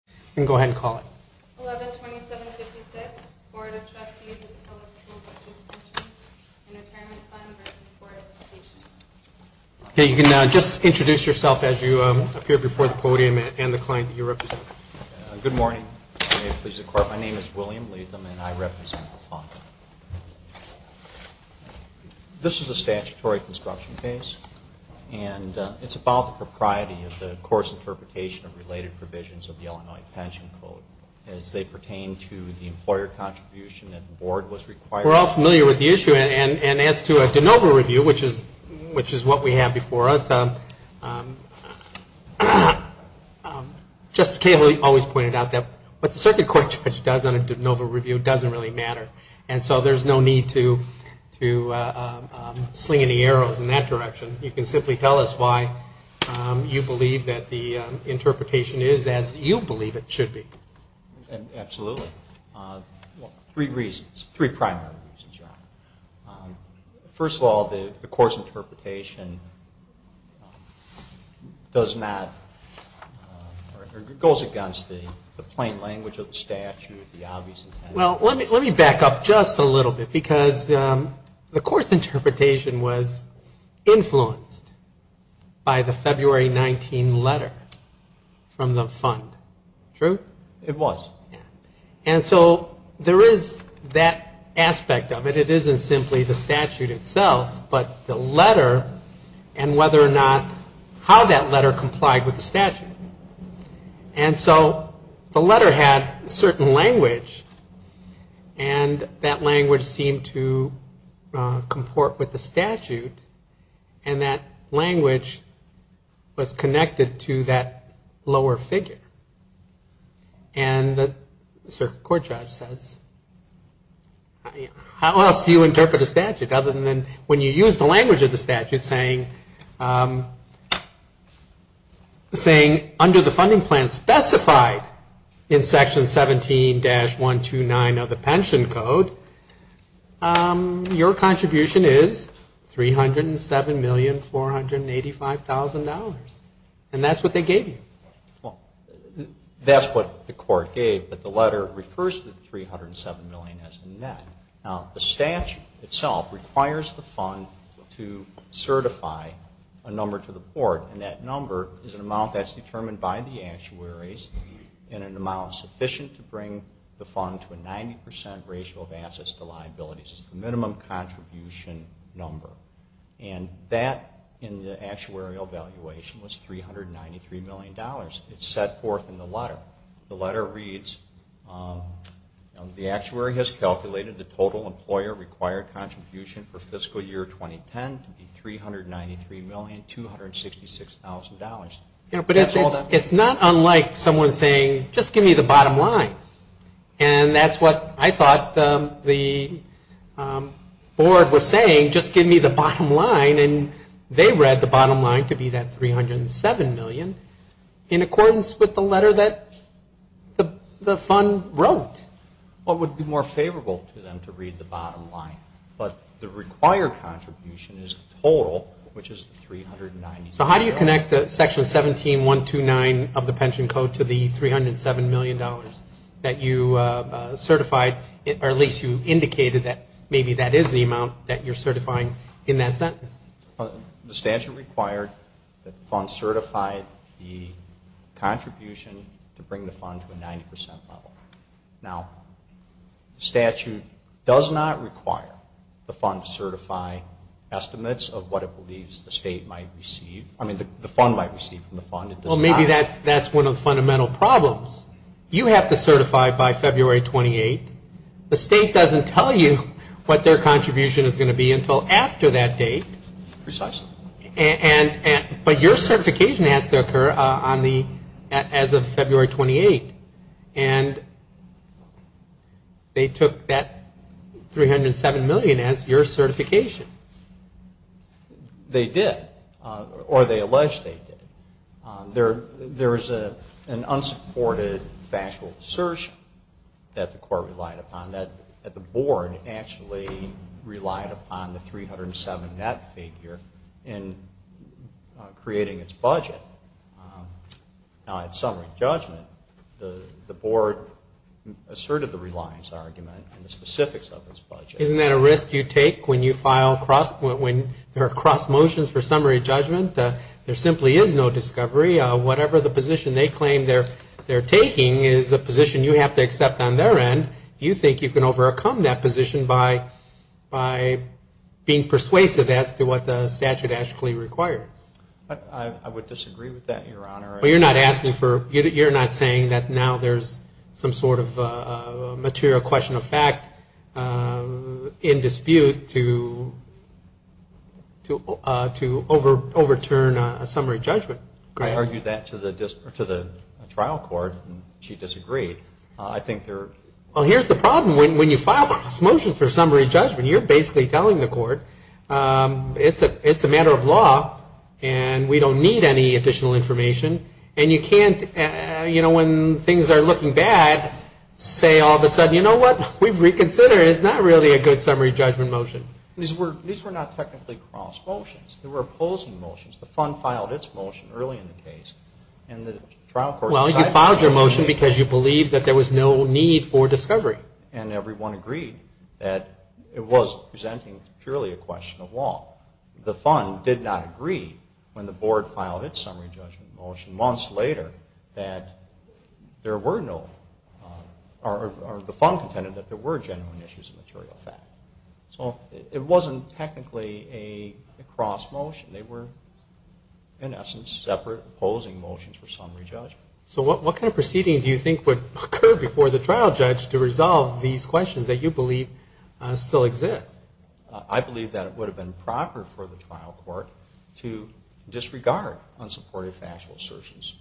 112756, Board of Trustees of the Public School Teachers' Pension and Retirement Fund of Chicago v. Board of Education 112756, Board of Education of the City of Chicago v. Board of Education of the City of Chicago v. Board of Education of the City of Chicago Absolutely. Three primary reasons, John. First of all, the course interpretation goes against the plain language of the statute, the obvious intent. Well, let me back up just a little bit because the course interpretation was influenced by the February 19 letter from the fund. True? It was. And so there is that aspect of it. It isn't simply the statute itself, but the letter and whether or not, how that letter complied with the statute. And so the letter had certain language and that language seemed to comport with the statute and that language was connected to that lower figure. And the court judge says, how else do you interpret a statute other than when you use the language of the statute saying under the funding plan specified in Section 17-129 of the pension code, your contribution is $307,485,000. And that's what they gave you. Well, that's what the court gave, but the letter refers to the $307,000,000 as a net. Now, the statute itself requires the fund to certify a number to the board and that number is an amount that's determined by the actuaries and an amount sufficient to bring the fund to a 90% ratio of assets to liabilities. It's the minimum contribution number. And that, in the actuarial evaluation, was $393,000,000. It's set forth in the letter. The letter reads, the actuary has calculated the total employer required contribution for fiscal year 2010 to be $393,266,000. That's all that. It's not unlike someone saying, just give me the bottom line. And that's what I thought the board was saying, just give me the bottom line. And they read the bottom line to be that $307,000,000 in accordance with the letter that the fund wrote. Well, it would be more favorable to them to read the bottom line. But the required contribution is the total, which is $393,000,000. So how do you connect the Section 17-129 of the pension code to the $307,000,000 that you certified, or at least you indicated that maybe that is the amount that you're certifying in that sentence? The statute required that the fund certify the contribution to bring the fund to a 90% level. Now, the statute does not require the fund to certify estimates of what it believes the state might receive. I mean, the fund might receive from the fund. Well, maybe that's one of the fundamental problems. You have to certify by February 28. The state doesn't tell you what their contribution is going to be until after that date. Precisely. But your certification has to occur as of February 28. And they took that $307,000,000 as your certification. They did. Or they alleged they did. There is an unsupported factual assertion that the court relied upon that the board actually relied upon the $307,000,000 net figure in creating its budget. Now, at summary judgment, the board asserted the reliance argument and the specifics of its budget. Isn't that a risk you take when there are cross motions for summary judgment? There simply is no discovery. Whatever the position they claim they're taking is a position you have to accept on their end. You think you can overcome that position by being persuasive as to what the statute actually requires. I would disagree with that, Your Honor. You're not saying that now there's some sort of material question of fact in dispute to overturn a summary judgment? I argued that to the trial court, and she disagreed. Well, here's the problem. When you file cross motions for summary judgment, you're basically telling the court it's a matter of law, and we don't need any additional information. And you can't, you know, when things are looking bad, say all of a sudden, you know what? We've reconsidered. It's not really a good summary judgment motion. Well, you filed your motion because you believed that there was no need for discovery. And everyone agreed that it was presenting purely a question of law. The fund did not agree when the board filed its summary judgment motion months later that there were no, or the fund contended that there were genuine issues of material fact. So it wasn't technically a cross motion. They were, in essence, separate opposing motions for summary judgment. So what kind of proceeding do you think would occur before the trial judge to resolve these questions that you believe still exist? I believe that it would have been proper for the trial court to disregard unsupported factual assertions.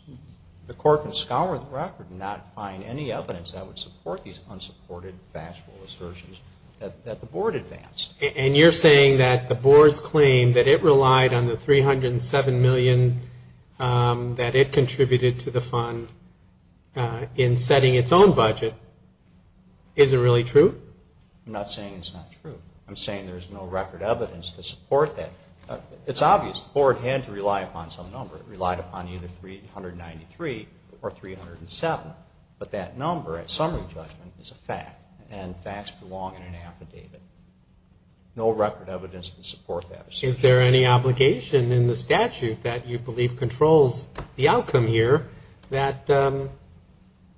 The court can scour the record and not find any evidence that would support these unsupported factual assertions that the board advanced. And you're saying that the board's claim that it relied on the $307 million that it contributed to the fund in setting its own budget, is it really true? I'm not saying it's not true. I'm saying there's no record evidence to support that. It's obvious the board had to rely upon some number. It relied upon either $393 or $307. But that number at summary judgment is a fact. And facts belong in an affidavit. No record evidence can support that assertion. Is there any obligation in the statute that you believe controls the outcome here that the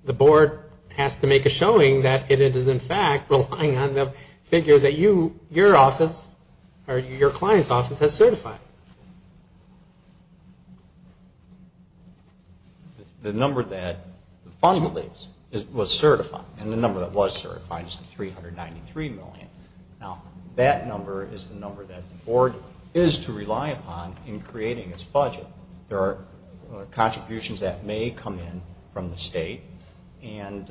board has to make a showing that it is in fact relying on the figure that you, your office, or your client's office has certified? The number that the fund believes was certified, and the number that was certified is the $393 million. Now, that number is the number that the board is to rely upon in creating its budget. There are contributions that may come in from the state. And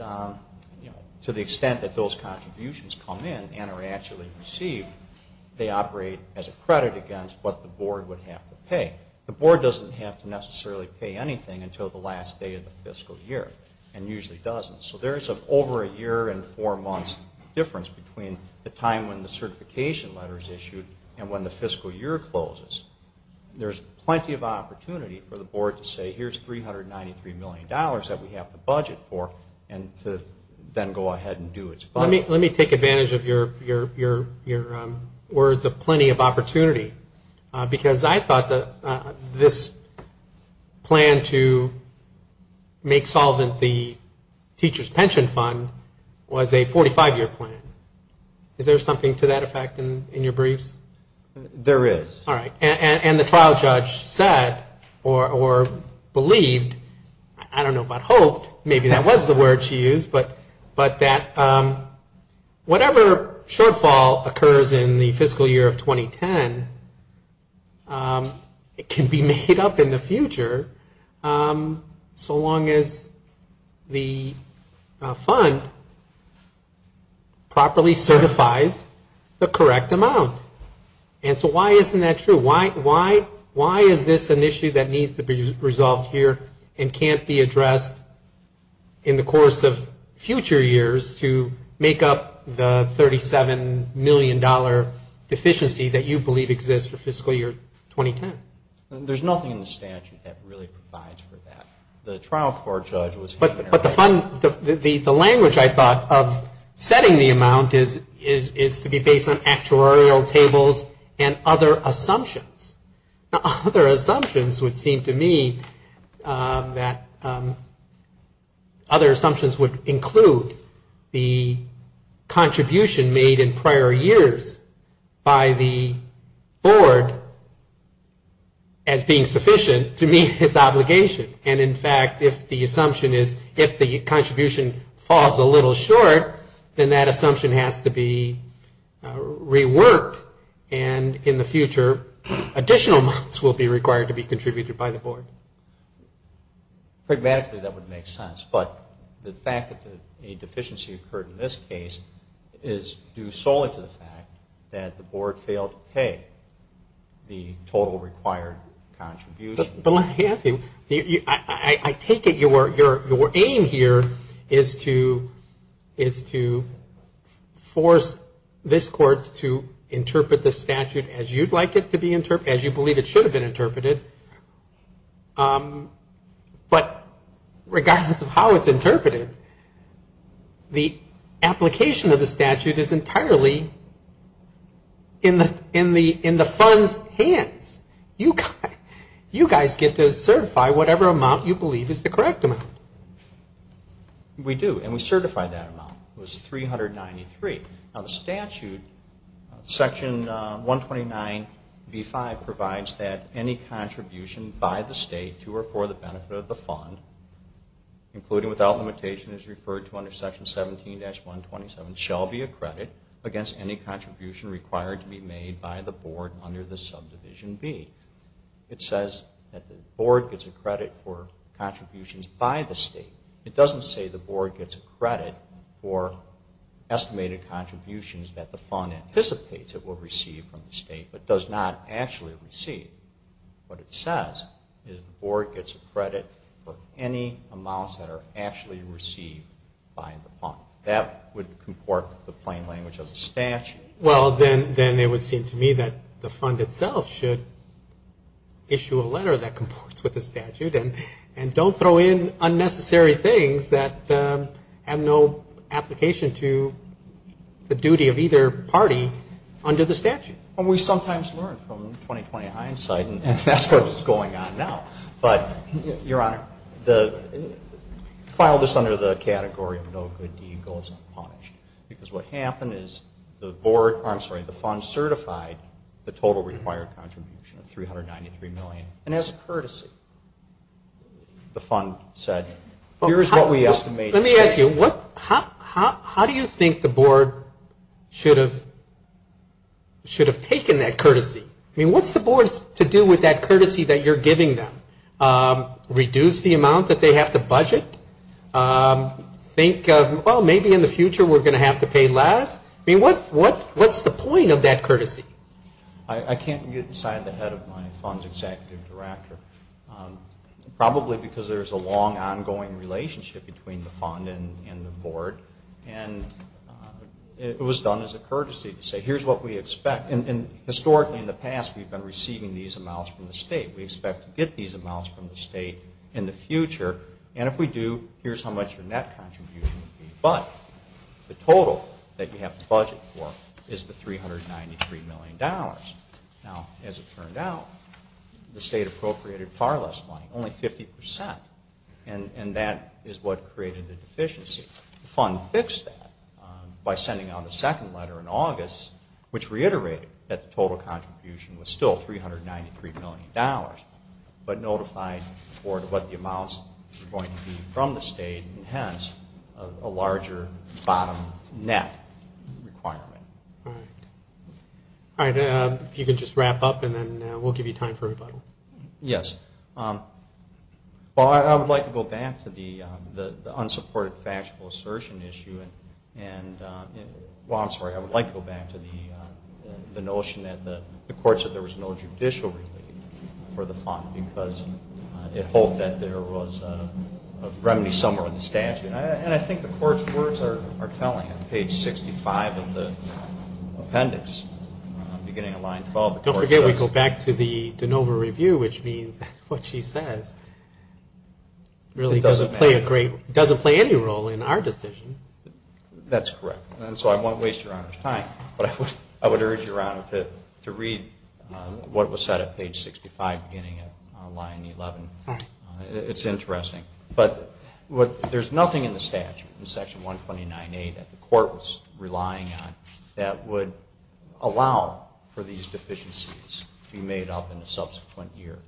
to the extent that those contributions come in and are actually received, they operate as a credit against what the board would have to pay. The board doesn't have to necessarily pay anything until the last day of the fiscal year, and usually doesn't. So there's an over a year and four months difference between the time when the certification letter is issued and when the fiscal year closes. There's plenty of opportunity for the board to say, here's $393 million that we have to budget for, and to then go ahead and do its budget. Let me take advantage of your words of plenty of opportunity. Because I thought that this was a good opportunity for the board to say, this plan to make solvent the teacher's pension fund was a 45-year plan. Is there something to that effect in your briefs? There is. All right. And the trial judge said, or believed, I don't know about hoped, maybe that was the word she used, but that whatever shortfall occurs in the fiscal year of 2010, it can be made up in the future. So long as the fund properly certifies the correct amount. And so why isn't that true? Why is this an issue that needs to be resolved here and can't be addressed in the course of future years to make up the $37 million deficiency that you believe exists for fiscal year 2010? There's nothing in the statute that really provides for that. The trial court judge was... But the language I thought of setting the amount is to be based on actuarial tables and other assumptions. Other assumptions would seem to me that other assumptions would include the amount as being sufficient to meet its obligation. And in fact, if the assumption is, if the contribution falls a little short, then that assumption has to be reworked. And in the future, additional amounts will be required to be contributed by the board. Pragmatically, that would make sense. But the fact that a deficiency occurred in this case is due solely to the fact that the board failed to pay the total required amount. And that's not true. It's not true that the board failed to pay the required contribution. But let me ask you, I take it your aim here is to force this court to interpret the statute as you'd like it to be interpreted, as you believe it should have been interpreted. But regardless of how it's interpreted, the application of the statute is entirely in the fund's hands. You can't force the court to interpret the statute as you'd like it to be interpreted. You guys get to certify whatever amount you believe is the correct amount. We do, and we certify that amount. It was $393. Now the statute, Section 129B-5, provides that any contribution by the state to or for the benefit of the fund, including without limitation as referred to under Section 17-127, shall be accredited against any contribution required to be made by the board under the subdivision B. It says that the board gets a credit for contributions by the state. It doesn't say the board gets a credit for estimated contributions that the fund anticipates it will receive from the state, but does not actually receive. What it says is the board gets a credit for any amounts that are actually received by the fund. That would comport with the plain language of the statute. Well, then it would seem to me that the fund itself should issue a letter that comports with the statute and don't throw in unnecessary things that have no application to the duty of either party under the statute. We sometimes learn from 2020 hindsight. That's what is going on now. But, Your Honor, file this under the category of no good deed goes unpunished. Because what happened is the board, I'm sorry, the fund certified the total required contribution of $393 million. And as a courtesy, the fund said, here is what we estimate. Let me ask you, how do you think the board should have taken that courtesy? I mean, what's the board's to do with that courtesy that you're giving them? Reduce the amount that they have to budget? Think, well, maybe in the future we're going to have to pay less? I mean, what's the point of that courtesy? I can't get inside the head of my fund's executive director. Probably because there's a long, ongoing relationship between the fund and the board. And it was done as a courtesy to say, here's what we expect. And historically in the past, we've been receiving these amounts from the state. We expect to get these amounts from the state in the future. And if we do, here's how much the net contribution would be. But the total that you have to budget for is the $393 million. Now, as it turned out, the state appropriated far less money, only 50%. And that is what created the deficiency. The fund fixed that by sending out a second letter in August, which reiterated that the total contribution was still $393 million, but notified the board what the amounts were going to be from the state, and hence a larger bottom net requirement. All right. If you could just wrap up, and then we'll give you time for rebuttal. Yes. Well, I would like to go back to the unsupported factual assertion issue. Well, I'm sorry. I would like to go back to the notion that the courts said there was no judicial relief for the fund because it hoped that there was a remedy somewhere in the statute. And I think the court's words are telling at page 65 of the appendix, beginning of line 12. Don't forget we go back to the de novo review, which means what she says really doesn't play any role in our decision. That's correct. And so I won't waste Your Honor's time, but I would urge Your Honor to read what was said at page 65, beginning of line 11. All right. It's interesting. But there's nothing in the statute in section 129A that the court was relying on that would allow for these deficiencies to be made up in a subsequent year.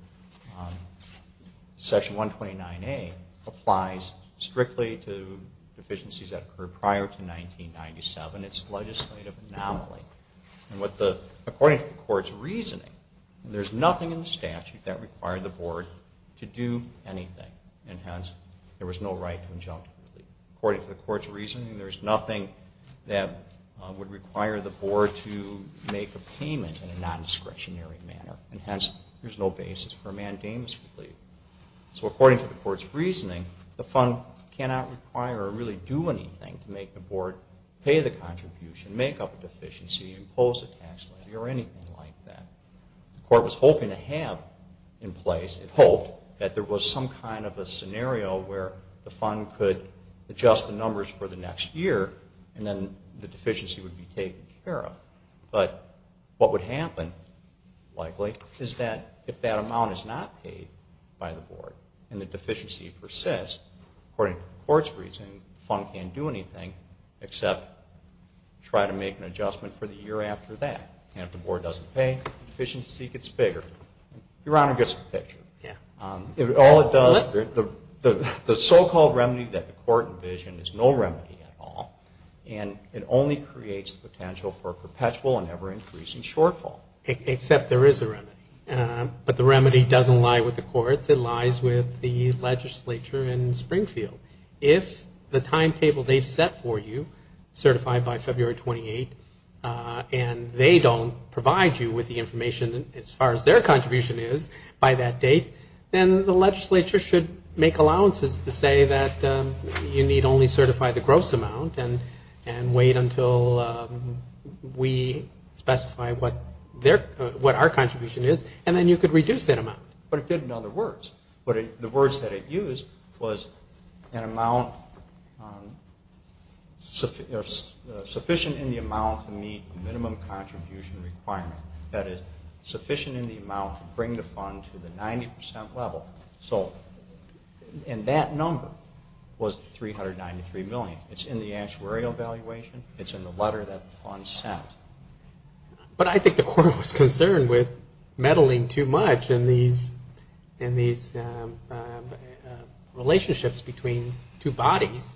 Section 129A applies strictly to deficiencies that occurred prior to 1997. It's a legislative anomaly. And according to the court's reasoning, there's nothing in the statute that required the board to do anything. And hence, there was no right to injunctive relief. According to the court's reasoning, there's nothing that would require the board to make a payment in a non-discretionary manner. And hence, there's no basis for a mandamus relief. So according to the court's reasoning, the fund cannot require or really do anything to make the board pay the contribution, make up a deficiency, impose a tax levy, or anything like that. The court was hoping to have in place, it hoped, that there was some kind of a scenario where the fund could adjust the numbers for the next year, and then the deficiency would be taken care of. But what would happen, likely, is that if that amount is not paid by the board and the deficiency persists, according to the court's reasoning, the fund can't do anything except try to make an adjustment for the year after that. And if the board doesn't pay, the deficiency gets bigger. Your Honor gets the picture. All it does, the so-called remedy that the court envisioned is no remedy at all, and it only creates the potential for a perpetual and ever-increasing shortfall. Except there is a remedy. But the remedy doesn't lie with the courts. It lies with the legislature in Springfield. If the timetable they've set for you, certified by February 28, and they don't provide you with the information as far as their contribution is by that date, then the legislature should make allowances to say that you need only certify the gross amount and wait until we specify what our contribution is, and then you could reduce that amount. But it did in other words. But the words that it used was an amount sufficient in the amount to meet the minimum contribution requirement. That is, sufficient in the amount to bring the fund to the 90 percent level. And that number was $393 million. It's in the actuarial valuation. It's in the letter that the fund sent. But I think the court was concerned with meddling too much in these relationships between two bodies.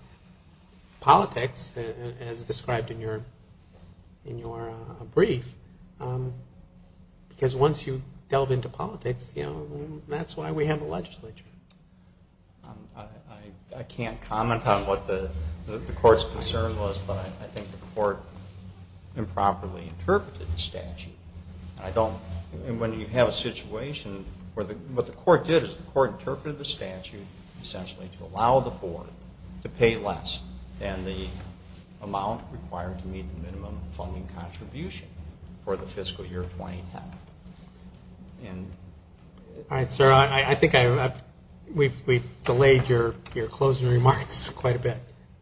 Politics, as described in your brief, because once you delve into politics, that's why we have a legislature. I can't comment on what the court's concern was, but I think the court improperly interpreted the statute. And when you have a situation where what the court did is the court interpreted the statute essentially to allow the board to pay less than the amount required to meet the minimum funding contribution for the fiscal year 2010. All right, sir.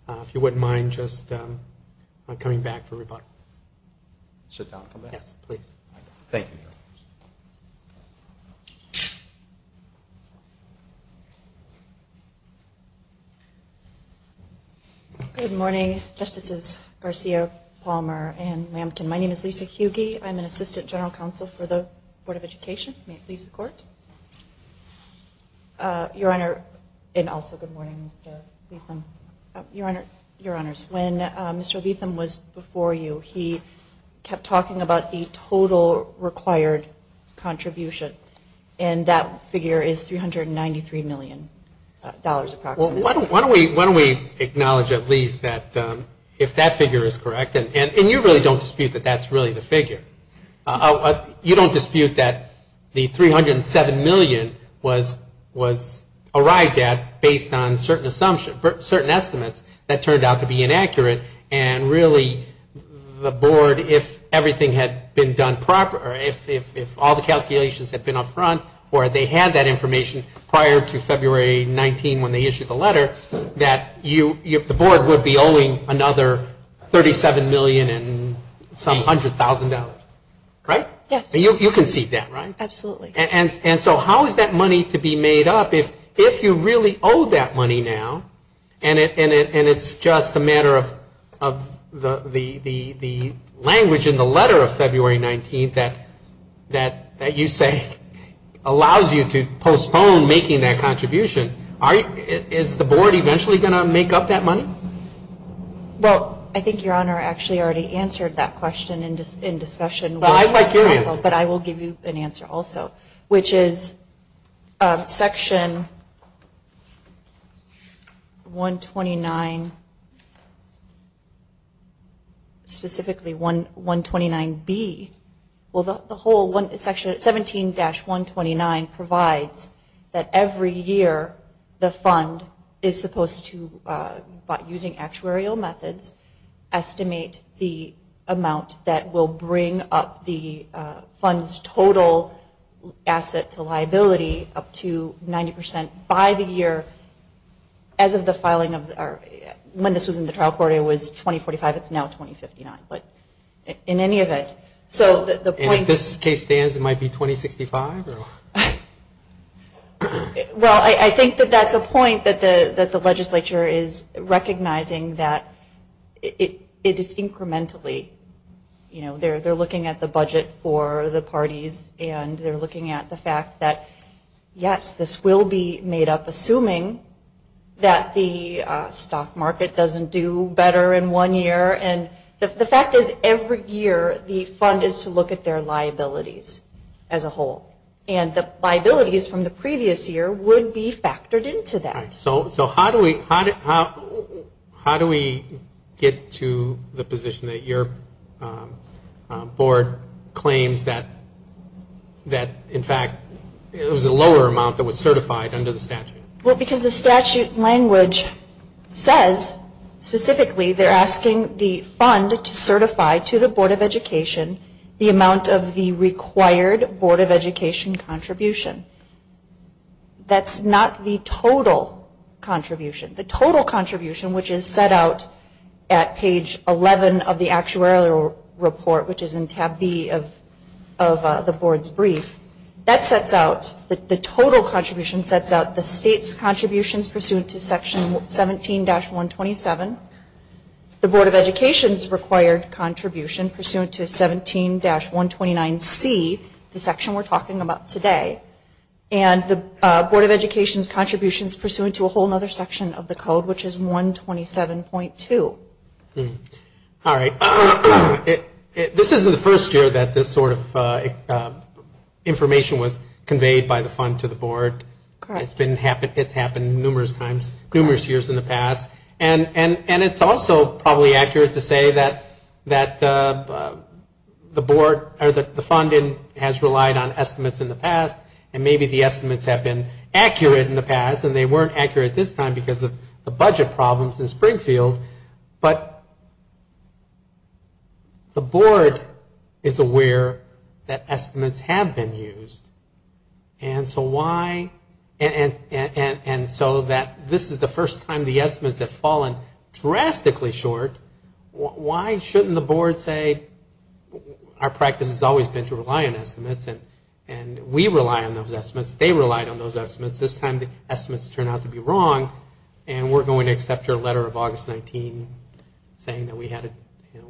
If you wouldn't mind just coming back for rebuttal. Sit down, come back. Yes, please. Thank you. Good morning, Justices Garcia, Palmer, and Lambton. My name is Lisa Hugie. I'm an assistant general counsel for the Board of Education. May it please the court. Your Honor, and also good morning, Mr. Leatham. Your Honor, your Honors, when Mr. Leatham was before you, he kept talking about the total required contribution. And that figure is $393 million approximately. Why don't we acknowledge at least that if that figure is correct, and you really don't dispute that that's really the figure. You don't dispute that the $307 million was arrived at based on certain assumptions, certain estimates that turned out to be inaccurate. And really the board, if everything had been done properly, if all the calculations had been up front or they had that information prior to February 19 when they issued the letter, that the board would be owing another $37 million and some $100,000, right? Yes. You can see that, right? Absolutely. And so how is that money to be made up if you really owe that money now and it's just a matter of the language in the letter of February 19th that you say allows you to postpone making that contribution. Is the board eventually going to make up that money? Well, I think Your Honor actually already answered that question in discussion. Well, I'm quite curious. But I will give you an answer also, which is Section 129, specifically 129B. Section 17-129 provides that every year the fund is supposed to, by using actuarial methods, estimate the amount that will bring up the fund's total asset to liability up to 90% by the year as of the filing of, when this was in the trial court it was 2045, it's now 2059. But in any event, so the point is... And if this case stands it might be 2065? Well, I think that that's a point that the legislature is recognizing that it is incrementally, you know, they're looking at the budget for the parties and they're looking at the fact that, yes, this will be made up, assuming that the stock market doesn't do better in one year. And the fact is every year the fund is to look at their liabilities as a whole. And the liabilities from the previous year would be factored into that. So how do we get to the position that your board claims that, in fact, it was a lower amount that was certified under the statute? Well, because the statute language says, specifically, they're asking the fund to certify to the Board of Education the amount of the required Board of Education contribution. That's not the total contribution. The total contribution, which is set out at page 11 of the actuarial report, which is in tab B of the board's brief, that sets out, the total contribution sets out the state's contributions pursuant to Section 17-127, the Board of Education's required contribution pursuant to 17-129C, the section we're talking about today, and the Board of Education's contributions pursuant to a whole other section of the code, which is 127.2. All right. This isn't the first year that this sort of information was conveyed by the fund to the board. It's happened numerous times, numerous years in the past. And it's also probably accurate to say that the funding has relied on estimates in the past, and maybe the estimates have been accurate in the past, and they weren't accurate this time because of the budget problems in Springfield, but the board is aware that estimates have been used. And so why, and so that this is the first time the estimates have fallen drastically short, why shouldn't the board say, our practice has always been to rely on estimates, and we rely on those estimates, they relied on those estimates, but this time the estimates turned out to be wrong, and we're going to accept your letter of August 19 saying that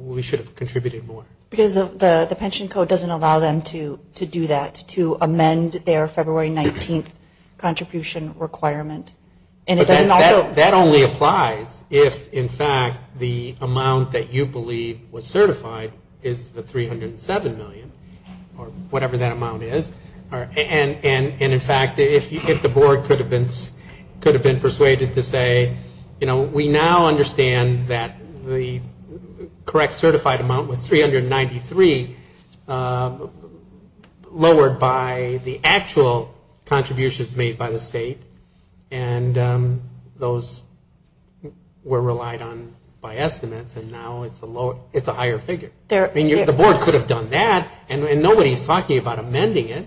we should have contributed more. Because the pension code doesn't allow them to do that, to amend their February 19th contribution requirement. That only applies if, in fact, the amount that you believe was certified is the 307 million, or whatever that amount is. And, in fact, if the board could have been persuaded to say, you know, we now understand that the correct certified amount was 393, lowered by the actual contributions made by the state, and those were relied on by estimates, and now it's a higher figure. I mean, the board could have done that, and nobody's talking about amending it.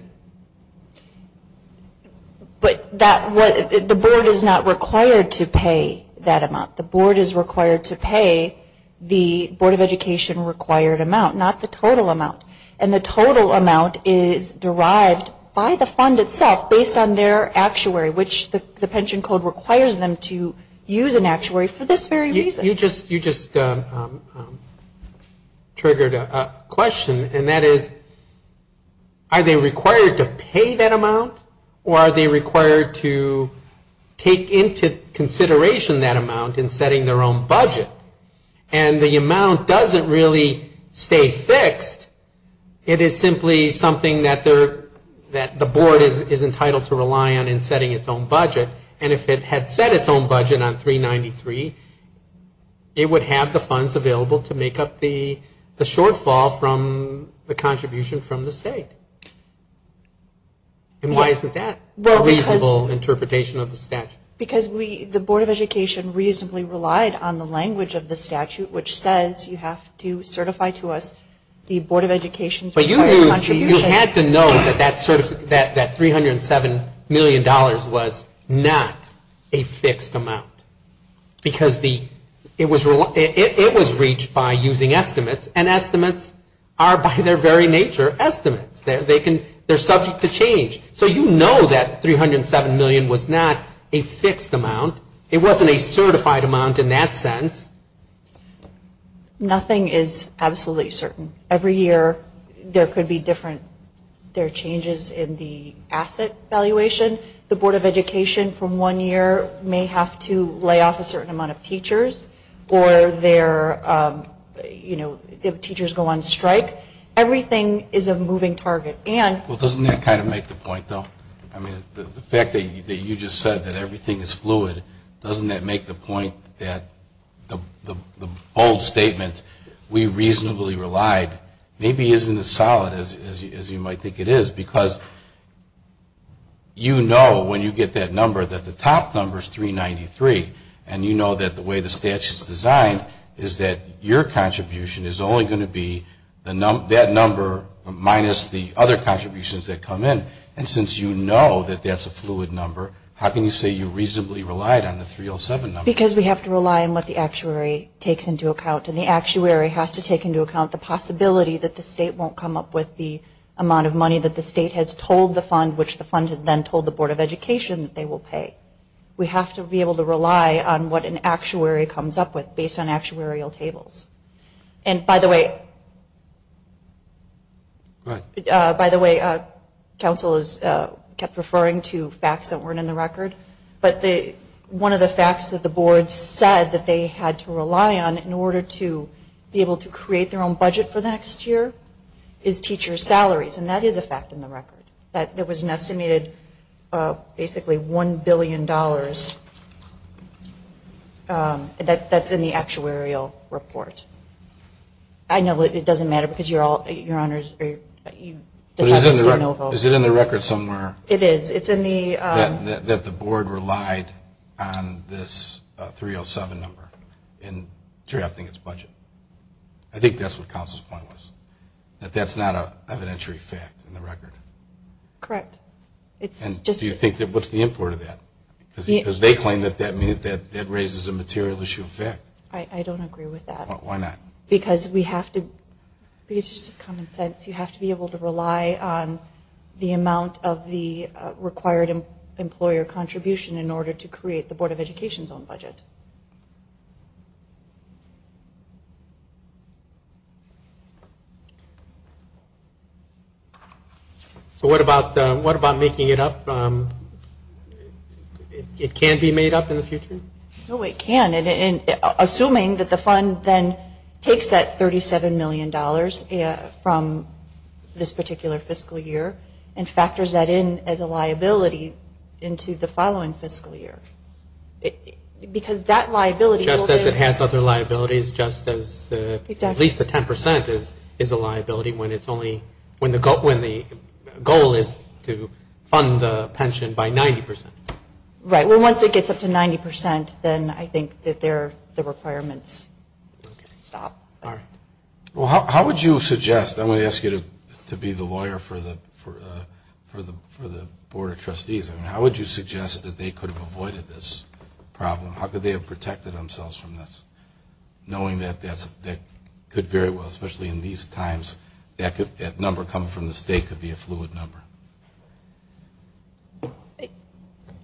But the board is not required to pay that amount. The board is required to pay the Board of Education required amount, not the total amount. And the total amount is derived by the fund itself based on their actuary, which the pension code requires them to use an actuary for this very reason. You just triggered a question, and that is, are they required to pay that amount, or are they required to take into consideration that amount in setting their own budget? And the amount doesn't really stay fixed. It is simply something that the board is entitled to rely on in setting its own budget. And if it had set its own budget on 393, it would have the funds available to make up the shortfall from the contribution from the state. And why isn't that a reasonable interpretation of the statute? Because the Board of Education reasonably relied on the language of the statute, which says you have to certify to us the Board of Education's required contribution. You had to know that $307 million was not a fixed amount. Because it was reached by using estimates, and estimates are by their very nature estimates. They're subject to change. So you know that $307 million was not a fixed amount. It wasn't a certified amount in that sense. Nothing is absolutely certain. Every year there could be different changes in the asset valuation. The Board of Education from one year may have to lay off a certain amount of teachers, or their teachers go on strike. Everything is a moving target. Well, doesn't that kind of make the point, though? I mean, the fact that you just said that everything is fluid, doesn't that make the point that the bold statement, we reasonably relied, maybe isn't as solid as you might think it is. Because you know when you get that number that the top number is 393, and you know that the way the statute is designed is that your contribution is only going to be that number minus the other contributions that come in. And since you know that that's a fluid number, how can you say you reasonably relied on the 307 number? Because we have to rely on what the actuary takes into account. And the actuary has to take into account the possibility that the state won't come up with the amount of money that the state has told the fund, which the fund has then told the Board of Education that they will pay. We have to be able to rely on what an actuary comes up with based on actuarial tables. And by the way, council has kept referring to facts that weren't in the record, but one of the facts that the board said that they had to rely on in order to be able to create their own budget for the next year is teacher salaries. And that is a fact in the record, that there was an estimated basically $1 billion that's in the actuarial report. I know it doesn't matter because you're all, your honors, you just have to stand over. Is it in the record somewhere? It is. It's in the... That the board relied on this 307 number in drafting its budget. I think that's what council's point was. That that's not an evidentiary fact in the record. Correct. It's just... And do you think that, what's the import of that? Because they claim that that raises a material issue of fact. I don't agree with that. Why not? Because we have to, because it's just common sense, you have to be able to rely on the amount of the required employer contribution in order to create the Board of Education's own budget. So what about making it up? It can be made up in the future? No, it can't. Assuming that the fund then takes that $37 million from this particular fiscal year and factors that in as a liability into the following fiscal year. Because that liability... Just as it has other liabilities, just as at least the 10% is a liability when it's only, when the goal is to fund the pension by 90%. Right. Well, once it gets up to 90%, then I think that the requirements stop. All right. Well, how would you suggest? I'm going to ask you to be the lawyer for the Board of Trustees. How would you suggest that they could have avoided this problem? How could they have protected themselves from this, knowing that that could very well, especially in these times, that number coming from the state could be a fluid number?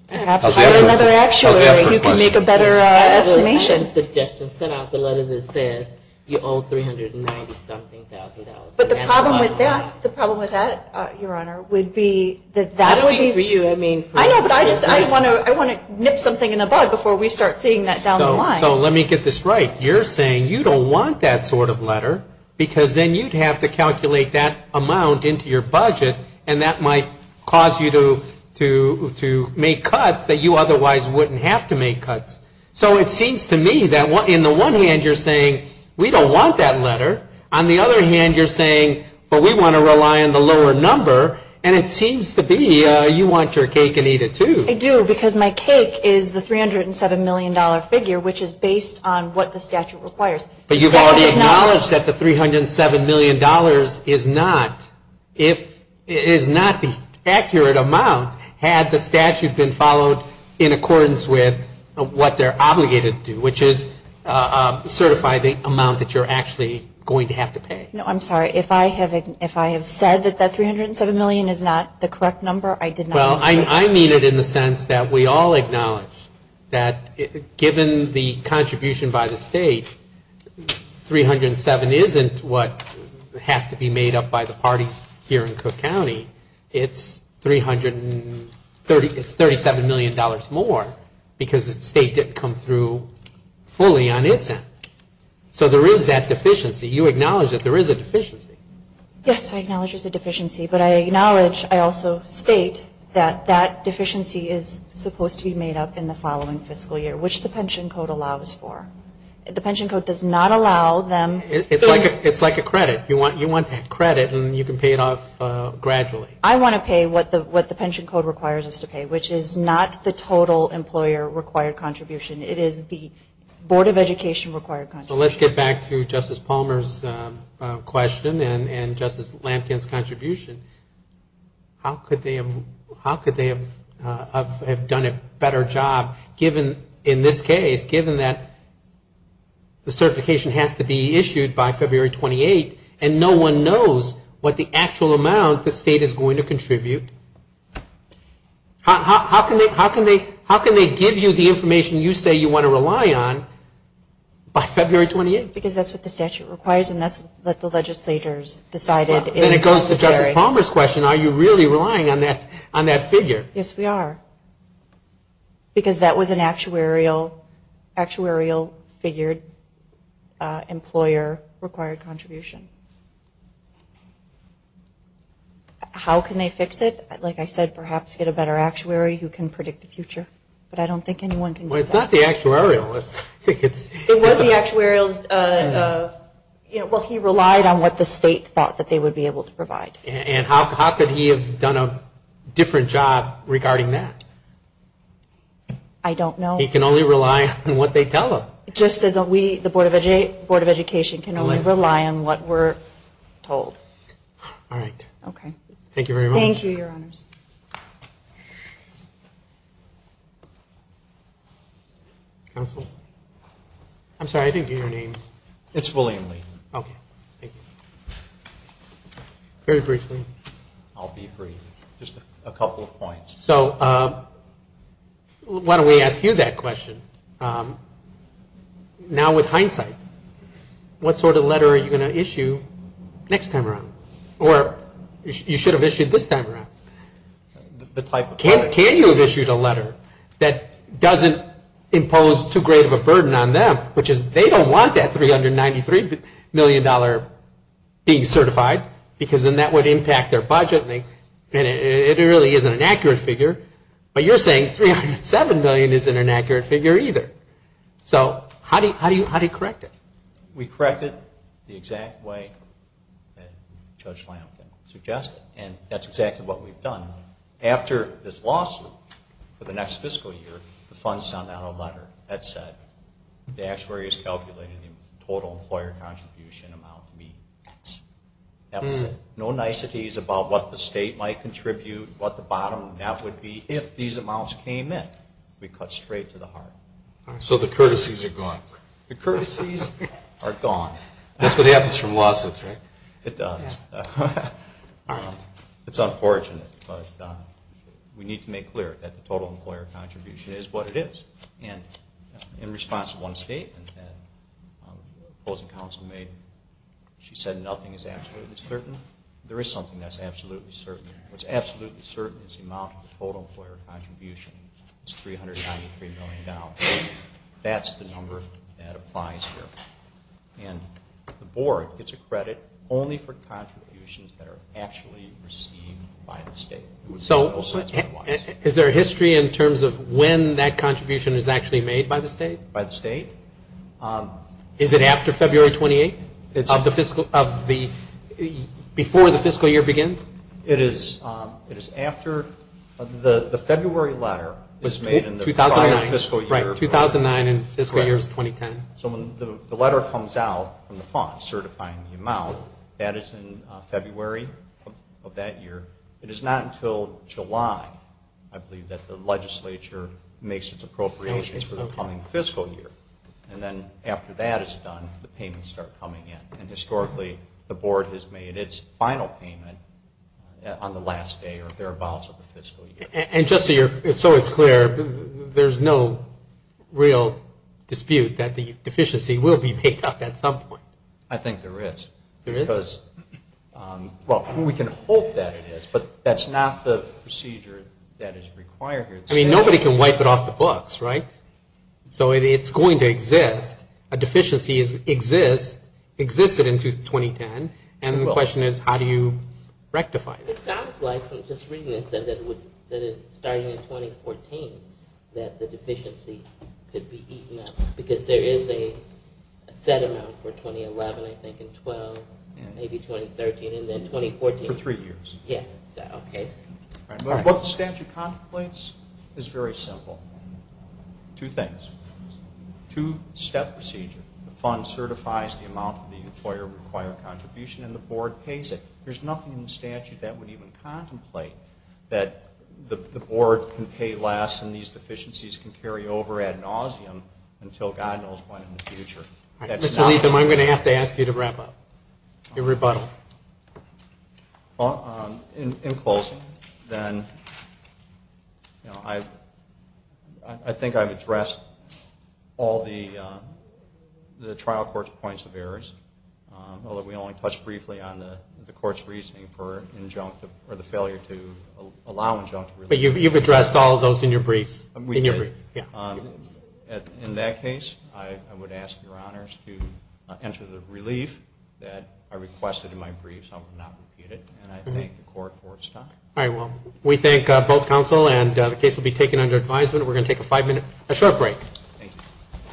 Perhaps if I were another actuary, you could make a better estimation. I would suggest to send out the letter that says you owe $390-something thousand dollars. But the problem with that, Your Honor, would be that that would be... I don't mean for you. I know, but I want to nip something in the bud before we start seeing that down the line. So let me get this right. You're saying you don't want that sort of letter because then you'd have to calculate that amount into your budget, and that might cause you to make cuts that you otherwise wouldn't have to make cuts. So it seems to me that in the one hand, you're saying we don't want that letter. On the other hand, you're saying, well, we want to rely on the lower number, and it seems to be you want your cake and eat it too. I do because my cake is the $307 million figure, which is based on what the statute requires. But you've already acknowledged that the $307 million is not the accurate amount, had the statute been followed in accordance with what they're obligated to do, which is certify the amount that you're actually going to have to pay. No, I'm sorry. If I have said that that $307 million is not the correct number, I did not mean that. Well, I mean it in the sense that we all acknowledge that given the contribution by the state, $307 isn't what has to be made up by the parties here in Cook County. It's $37 million more because the state didn't come through fully on its end. So there is that deficiency. You acknowledge that there is a deficiency. Yes, I acknowledge there's a deficiency, but I acknowledge I also state that that deficiency is supposed to be made up in the following fiscal year, which the pension code allows for. The pension code does not allow them. It's like a credit. You want that credit, and you can pay it off gradually. I want to pay what the pension code requires us to pay, which is not the total employer-required contribution. It is the Board of Education-required contribution. Let's get back to Justice Palmer's question and Justice Lampkin's contribution. How could they have done a better job in this case, given that the certification has to be issued by February 28th, and no one knows what the actual amount the state is going to contribute? How can they give you the information you say you want to rely on by February 28th? Because that's what the statute requires, and that's what the legislature has decided is necessary. Well, then it goes to Justice Palmer's question. Are you really relying on that figure? Yes, we are, because that was an actuarial-figured employer-required contribution. Okay. How can they fix it? Like I said, perhaps get a better actuary who can predict the future, but I don't think anyone can do that. Well, it's not the actuarialist. It was the actuarialist. Well, he relied on what the state thought that they would be able to provide. And how could he have done a different job regarding that? I don't know. He can only rely on what they tell him. Just as we, the Board of Education, can only rely on what we're told. All right. Okay. Thank you very much. Thank you, Your Honors. Counsel? I'm sorry, I didn't get your name. It's William Lee. Okay. Thank you. Very briefly, I'll be brief, just a couple of points. So why don't we ask you that question? Now with hindsight, what sort of letter are you going to issue next time around? Or you should have issued this time around. The type of letter. Can you have issued a letter that doesn't impose too great of a burden on them, which is they don't want that $393 million being certified because then that would impact their budget or something, and it really isn't an accurate figure. But you're saying $307 million isn't an accurate figure either. So how do you correct it? We correct it the exact way that Judge Lamkin suggested. And that's exactly what we've done. After this lawsuit, for the next fiscal year, the funds sent out a letter that said, the actuary has calculated the total employer contribution amount to be X. No niceties about what the state might contribute, what the bottom half would be. If these amounts came in, we cut straight to the heart. So the courtesies are gone. The courtesies are gone. That's what happens from lawsuits, right? It does. It's unfortunate, but we need to make clear that the total employer contribution is what it is. In response to one statement that the opposing counsel made, she said nothing is absolutely certain. There is something that's absolutely certain. What's absolutely certain is the amount of the total employer contribution is $393 million. That's the number that applies here. And the board gets a credit only for contributions that are actually received by the state. So is there a history in terms of when that contribution is actually made by the state? By the state. Is it after February 28th, before the fiscal year begins? It is after the February letter was made in the prior fiscal year. Right, 2009 and fiscal year is 2010. So when the letter comes out from the fund certifying the amount, that is in February of that year. It is not until July, I believe, that the legislature makes its appropriations for the coming fiscal year. And then after that is done, the payments start coming in. And historically, the board has made its final payment on the last day or thereabouts of the fiscal year. And just so it's clear, there's no real dispute that the deficiency will be made up at some point? I think there is. There is? Well, we can hope that it is. But that's not the procedure that is required here. I mean, nobody can wipe it off the books, right? So it's going to exist. A deficiency exists, existed into 2010. And the question is, how do you rectify it? It sounds like, just reading this, that it's starting in 2014 that the deficiency could be eaten up. Because there is a set amount for 2011, I think, and 2012, maybe 2013, and then 2014. For three years. Yes. Okay. What the statute contemplates is very simple. Two things. Two-step procedure. The fund certifies the amount the employer required contribution, and the board pays it. There's nothing in the statute that would even contemplate that the board can pay less and these deficiencies can carry over ad nauseum until God knows when in the future. Mr. Leatham, I'm going to have to ask you to wrap up. Your rebuttal. In closing, then, I think I've addressed all the trial court's points of errors, although we only touched briefly on the court's reasoning for injunctive or the failure to allow injunctive release. But you've addressed all of those in your briefs. We did. In that case, I would ask your honors to enter the relief that I requested in my brief, so I will not repeat it, and I thank the court for its time. All right. Well, we thank both counsel, and the case will be taken under advisement. We're going to take a five-minute short break. Thank you.